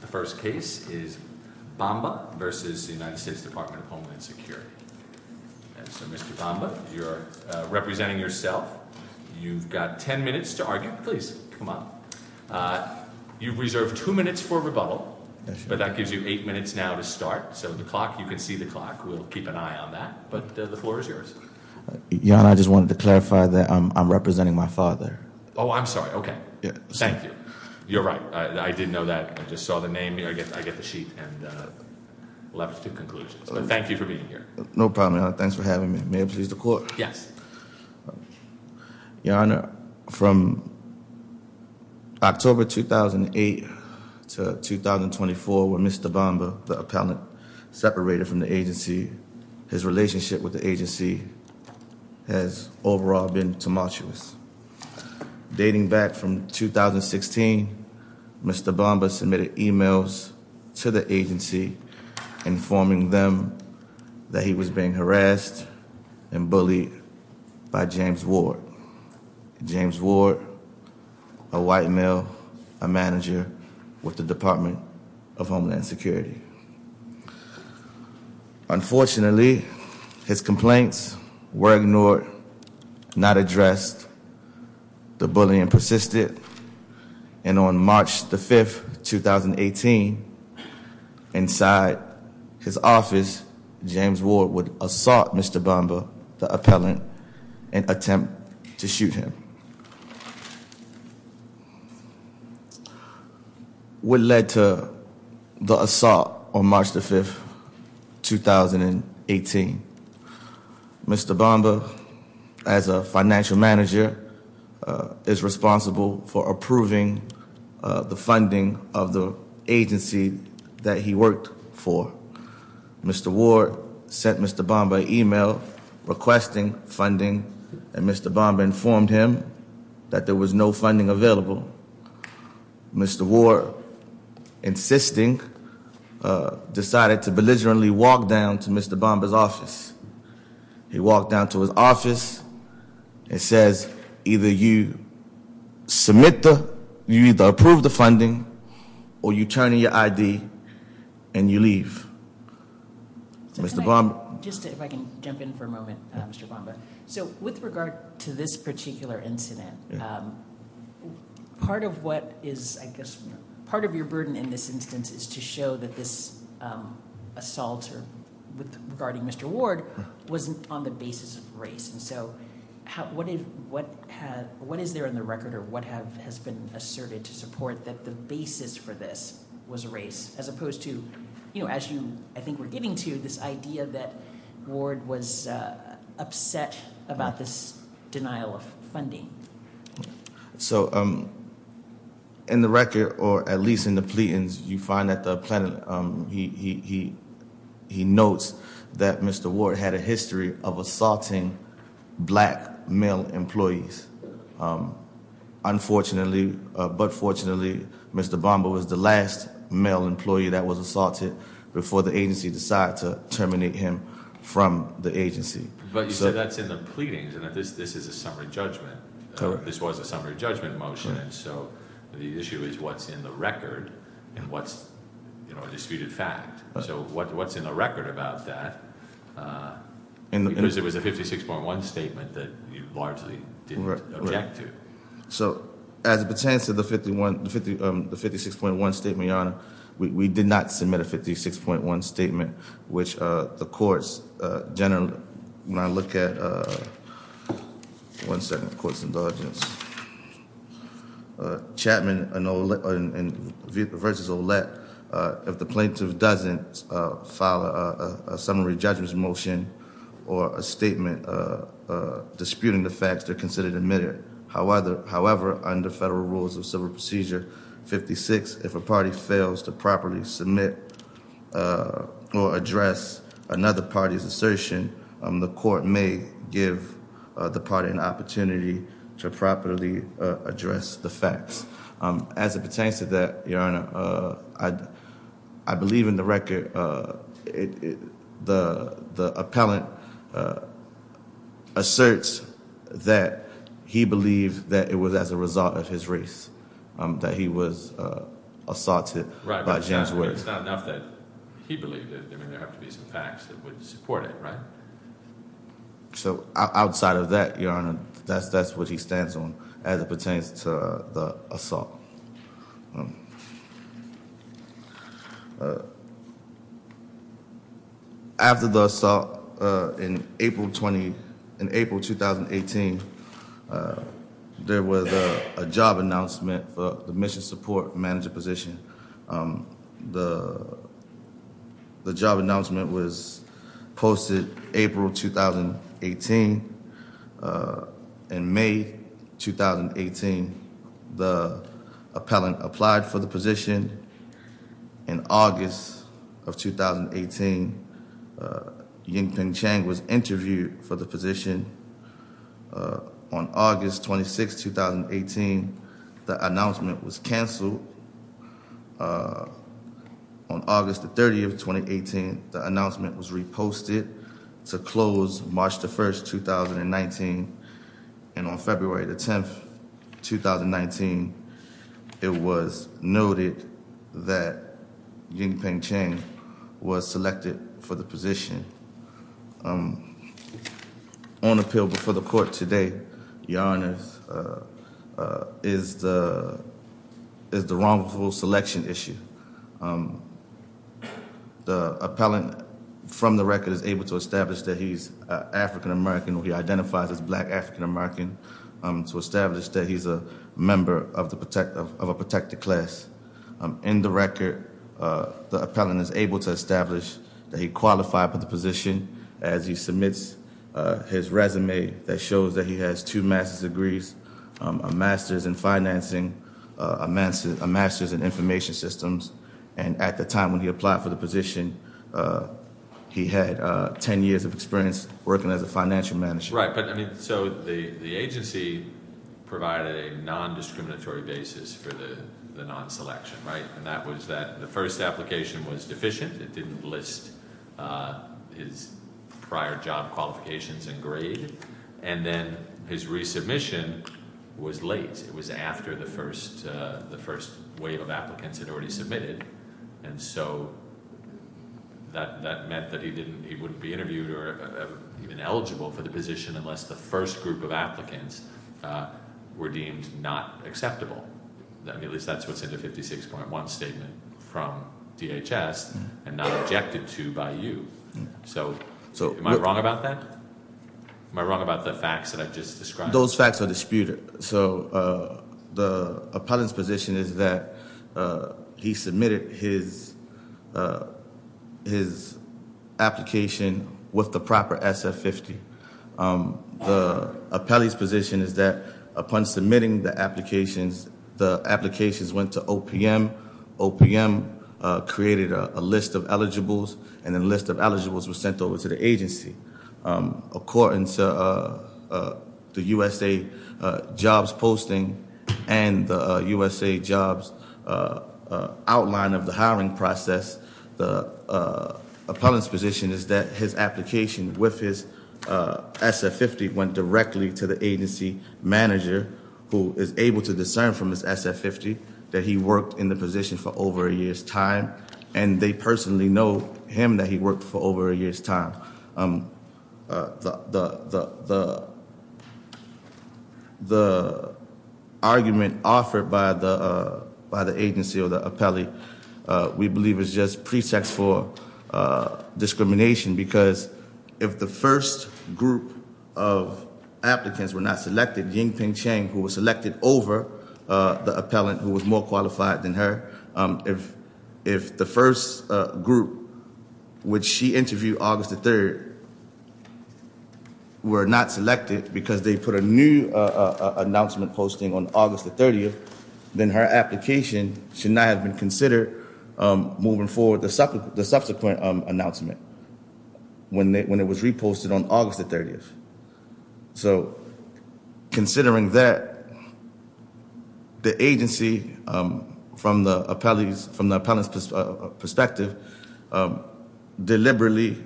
The first case is Bamba v. U.S. Department of Homeland Security. So, Mr. Bamba, you're representing yourself. You've got 10 minutes to argue. Please come up. You've reserved two minutes for rebuttal, but that gives you eight minutes now to start. So the clock, you can see the clock. We'll keep an eye on that, but the floor is yours. Your Honor, I just wanted to clarify that I'm representing my father. Oh, I'm sorry. Okay. Thank you. You're right. I didn't know that. I just saw the name. I get the sheet and we'll have to do conclusions, but thank you for being here. No problem, Your Honor. Thanks for having me. May it please the Court? Yes. Your Honor, from October 2008 to 2024 when Mr. Bamba, the appellant, separated from the agency, his relationship with the agency has overall been tumultuous. Dating back from 2016, Mr. Bamba submitted emails to the agency informing them that he was being harassed and bullied by James Ward. James Ward, a white male, a manager with the Department of Homeland Security. Unfortunately, his complaints were ignored, not addressed. The bullying persisted, and on March the 5th, 2018, inside his office, James Ward would assault Mr. Bamba, the appellant, and attempt to shoot him. What led to the assault on March the 5th, 2018? Mr. Bamba, as a financial manager, is responsible for approving the funding of the agency that he worked for. Mr. Ward sent Mr. Bamba an email requesting funding, and Mr. Bamba informed him that there was no funding available. Mr. Ward, insisting, decided to belligerently walk down to Mr. Bamba's office. He walked down to his office and says, either you submit the, you either approve the funding, or you turn in your ID, and you leave. Mr. Bamba. Just if I can jump in for a moment, Mr. Bamba. So with regard to this particular incident, part of what is, I guess, part of your burden in this instance is to show that this assault regarding Mr. Ward wasn't on the basis of race. And so, what is there on the record, or what has been asserted to support that the basis for this was race? As opposed to, as I think we're getting to, this idea that Ward was upset about this denial of funding. So in the record, or at least in the pleadings, you find that the appellant, he notes that Mr. Ward had a history of assaulting black male employees. Unfortunately, but fortunately, Mr. Bamba was the last male employee that was assaulted before the agency decided to terminate him from the agency. But you said that's in the pleadings, and that this is a summary judgment. This was a summary judgment motion, and so the issue is what's in the record, and what's a disputed fact. So what's in the record about that? Because it was a 56.1 statement that you largely didn't object to. So as it pertains to the 56.1 statement, Your Honor, we did not submit a 56.1 statement, which the courts generally, when I look at, one second, the court's indulgence, Chapman v. Ouellette, if the plaintiff doesn't file a summary judgment motion or a statement disputing the facts, they're considered admitted. However, under federal rules of civil procedure, 56, if a party fails to properly submit or address another party's assertion, the court may give the party an opportunity to properly address the facts. As it pertains to that, Your Honor, I believe in the record, the appellant asserts that he believed that it was a result of his race, that he was assaulted by James Woods. It's not enough that he believed it. There have to be some facts that would support it, right? So outside of that, Your Honor, that's what he stands on as it pertains to the assault. After the assault in April 2018, there was a job announcement for the mission support manager position. The job announcement was posted April 2018. In May 2018, the appellant applied for the position. In August of 2018, Yingping Chang was interviewed for the position. On August 26, 2018, the announcement was canceled. On August 30, 2018, the announcement was reposted to close March 1, 2019. On February 10, 2019, it was noted that Yingping Chang was selected for the position. On appeal before the court today, Your Honor, is the wrongful selection issue. The appellant, from the record, is able to establish that he's African American, or he identifies as black African American, to establish that he's a member of a protected class. In the record, the appellant is able to establish that he qualified for the position as he submits his resume that shows that he has two master's degrees, a master's in financing, a master's in information systems. And at the time when he applied for the position, he had 10 years of experience working as a financial manager. Right, but I mean, so the agency provided a non-discriminatory basis for the non-selection, right? And that was that the first application was deficient. It didn't list his prior job qualifications and grade. And then his resubmission was late. It was after the first wave of applicants had already submitted. And so that meant that he wouldn't be interviewed or even eligible for the position unless the first group of applicants were deemed not acceptable. At least that's what's in the 56.1 statement from DHS and not objected to by you. So am I wrong about that? Am I wrong about the facts that I've just described? Those facts are disputed. So the appellant's position is that he submitted his application with the proper SF-50. The appellee's position is that upon submitting the applications, the applications went to OPM. OPM created a list of eligibles, and the list of eligibles was sent over to the agency. According to the USA jobs posting and the USA jobs outline of the hiring process, the appellant's position is that his application with his SF-50 went directly to the agency manager who is able to discern from his SF-50 that he worked in the position for over a year's time. And they personally know him that he worked for over a year's time. The argument offered by the agency or the appellee we believe is just pretext for discrimination because if the first group of applicants were not selected, Ying-Ping Chang, who was selected over the appellant who was more qualified than her, if the first group which she interviewed August the 3rd were not selected because they put a new announcement posting on August the 30th, then her application should not have been considered moving forward the subsequent announcement when it was reposted on August the 30th. So considering that, the agency from the appellee's, from the appellant's perspective deliberately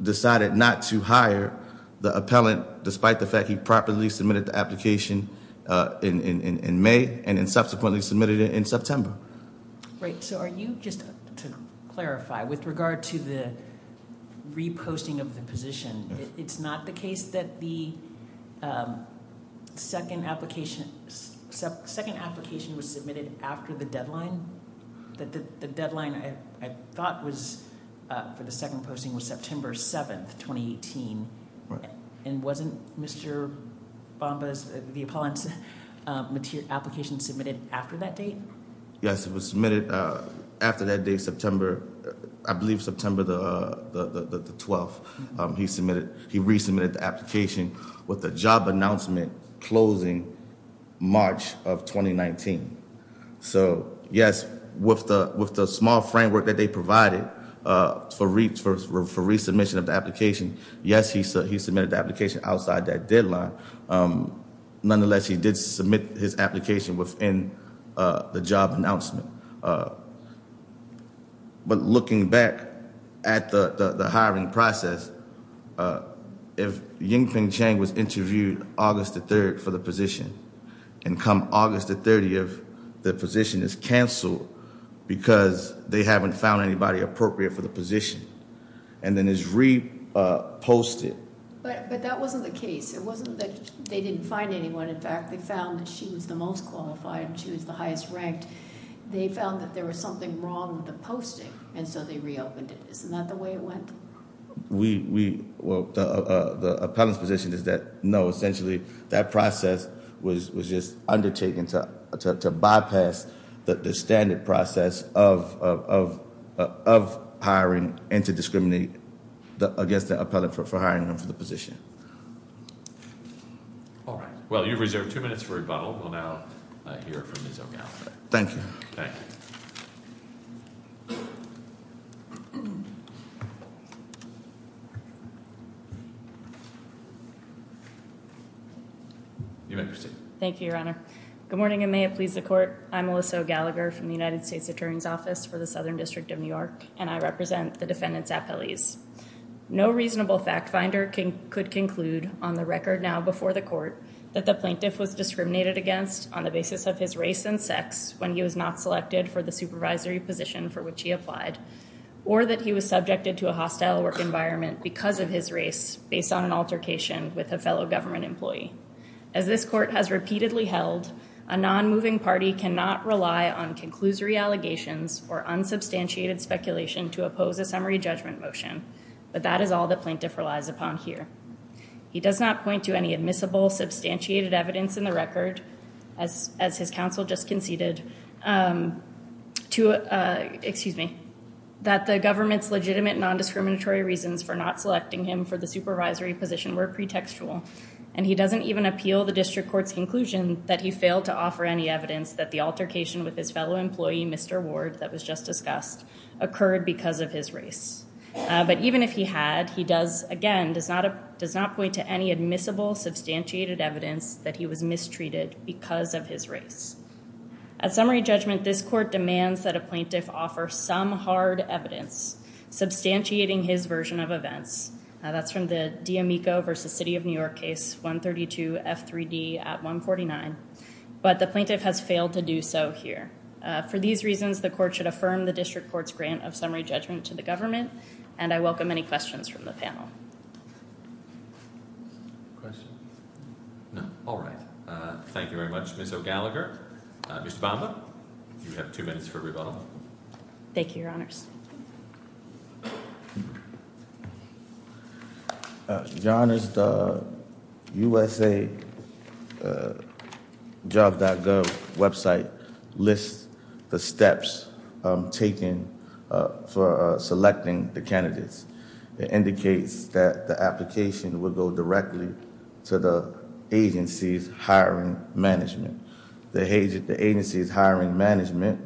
decided not to hire the appellant despite the fact he properly submitted the application in May and subsequently submitted it in September. Right, so are you, just to clarify, with regard to the second application, second application was submitted after the deadline? The deadline I thought was for the second posting was September 7th, 2018. And wasn't Mr. Bamba's, the appellant's application submitted after that date? Yes, it was submitted after that day, September, I believe September the 12th. He submitted, he resubmitted the application with the job announcement closing March of 2019. So yes, with the small framework that they provided for resubmission of the application, yes, he submitted the application outside that deadline. Nonetheless, he did submit his application within the job announcement. But looking back at the hiring process, if Yingping Chang was interviewed August the 3rd for the position and come August the 30th, the position is canceled because they haven't found anybody appropriate for the position and then is reposted. But that wasn't the case. It wasn't that they didn't find anyone. In fact, they found that she was the most qualified and she was the highest ranked. They found that there was something wrong with the posting and so they reopened it. Isn't that the way it went? We, well, the appellant's position is that no, essentially that process was just undertaken to bypass the standard process of hiring and to discriminate against the appellant for hiring and for the position. All right. Well, you've reserved two minutes for rebuttal. We'll now hear from Ms. O'Gallagher. Thank you. You may proceed. Thank you, Your Honor. Good morning and may it please the Court. I'm Alyssa O'Gallagher from the United States Attorney's Office for the Southern District of New York and I represent the defendant's appellees. No reasonable fact finder could conclude on the record now before the Court that the plaintiff was discriminated against on the basis of his race and sex when he was not selected for the supervisory position for which he applied or that he was subjected to a hostile work environment because of his race based on an altercation with a fellow government employee. As this Court has repeatedly held, a non-moving summary judgment motion but that is all the plaintiff relies upon here. He does not point to any admissible substantiated evidence in the record as his counsel just conceded to excuse me that the government's legitimate non-discriminatory reasons for not selecting him for the supervisory position were pretextual and he doesn't even appeal the district court's conclusion that he failed to offer any evidence that the altercation with his fellow employee, Mr. Ward, that was just discussed occurred because of his race. But even if he had, he does again does not point to any admissible substantiated evidence that he was mistreated because of his race. At summary judgment, this Court demands that a plaintiff offer some hard evidence substantiating his version of events. That's from the D'Amico versus City of New York 132 F3D at 149. But the plaintiff has failed to do so here. For these reasons, the court should affirm the district court's grant of summary judgment to the government and I welcome any questions from the panel. All right, thank you very much Ms. O'Gallagher. Mr. Bamba, you have two minutes for rebuttal. Thank you, your honors. Your honors, the USA job.gov website lists the steps taken for selecting the candidates. It indicates that the application will go directly to the agency's hiring management. The agency's management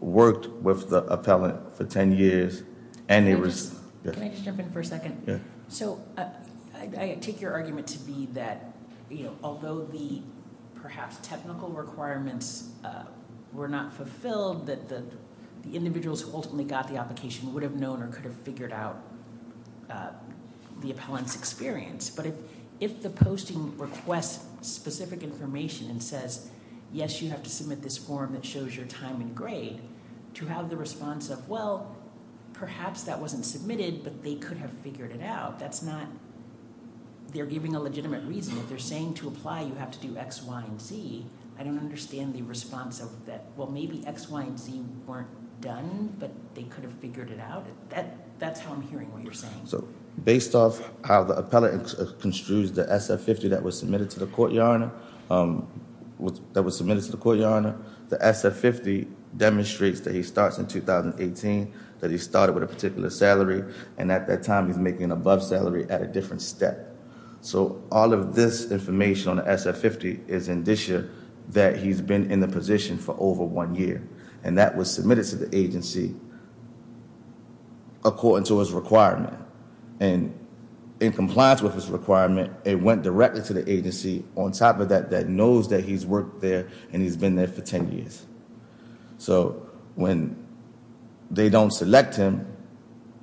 worked with the appellant for 10 years and it was- Can I just jump in for a second? I take your argument to be that although the perhaps technical requirements were not fulfilled, that the individuals who ultimately got the application would have known or could have figured out the appellant's experience. But if the posting requests specific information and says, yes, you have to submit this form that shows your time and grade to have the response of, well, perhaps that wasn't submitted, but they could have figured it out. That's not, they're giving a legitimate reason. If they're saying to apply, you have to do X, Y, and Z. I don't understand the response of that. Well, maybe X, Y, and Z weren't done, but they could have figured it out. That's how I'm hearing what you're saying. Based off how the appellant construes the SF-50 that was submitted to the Courtyard the SF-50 demonstrates that he starts in 2018, that he started with a particular salary, and at that time he's making an above salary at a different step. All of this information on the SF-50 is indicia that he's been in the position for over one year and that was submitted to the and in compliance with his requirement, it went directly to the agency on top of that, that knows that he's worked there and he's been there for 10 years. So when they don't select him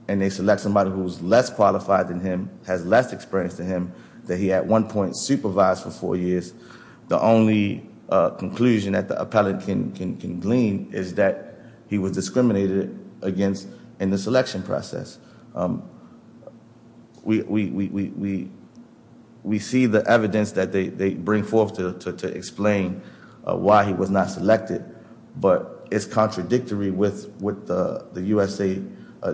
and they select somebody who's less qualified than him, has less experience than him, that he at one point supervised for four years, the only conclusion that the appellant can glean is that he was discriminated against in the selection process. We see the evidence that they bring forth to explain why he was not selected, but it's contradictory with what the USA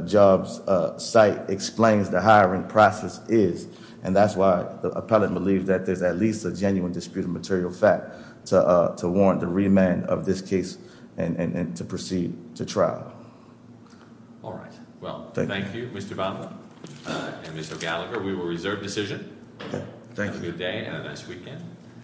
Jobs site explains the hiring process is, and that's why the appellant believes that there's at least a genuine disputed material fact to warrant the remand of this case and to proceed to trial. All right, well thank you Mr. Bonner and Mr. Gallagher. We will reserve decision. Thank you. Have a good day and a nice weekend.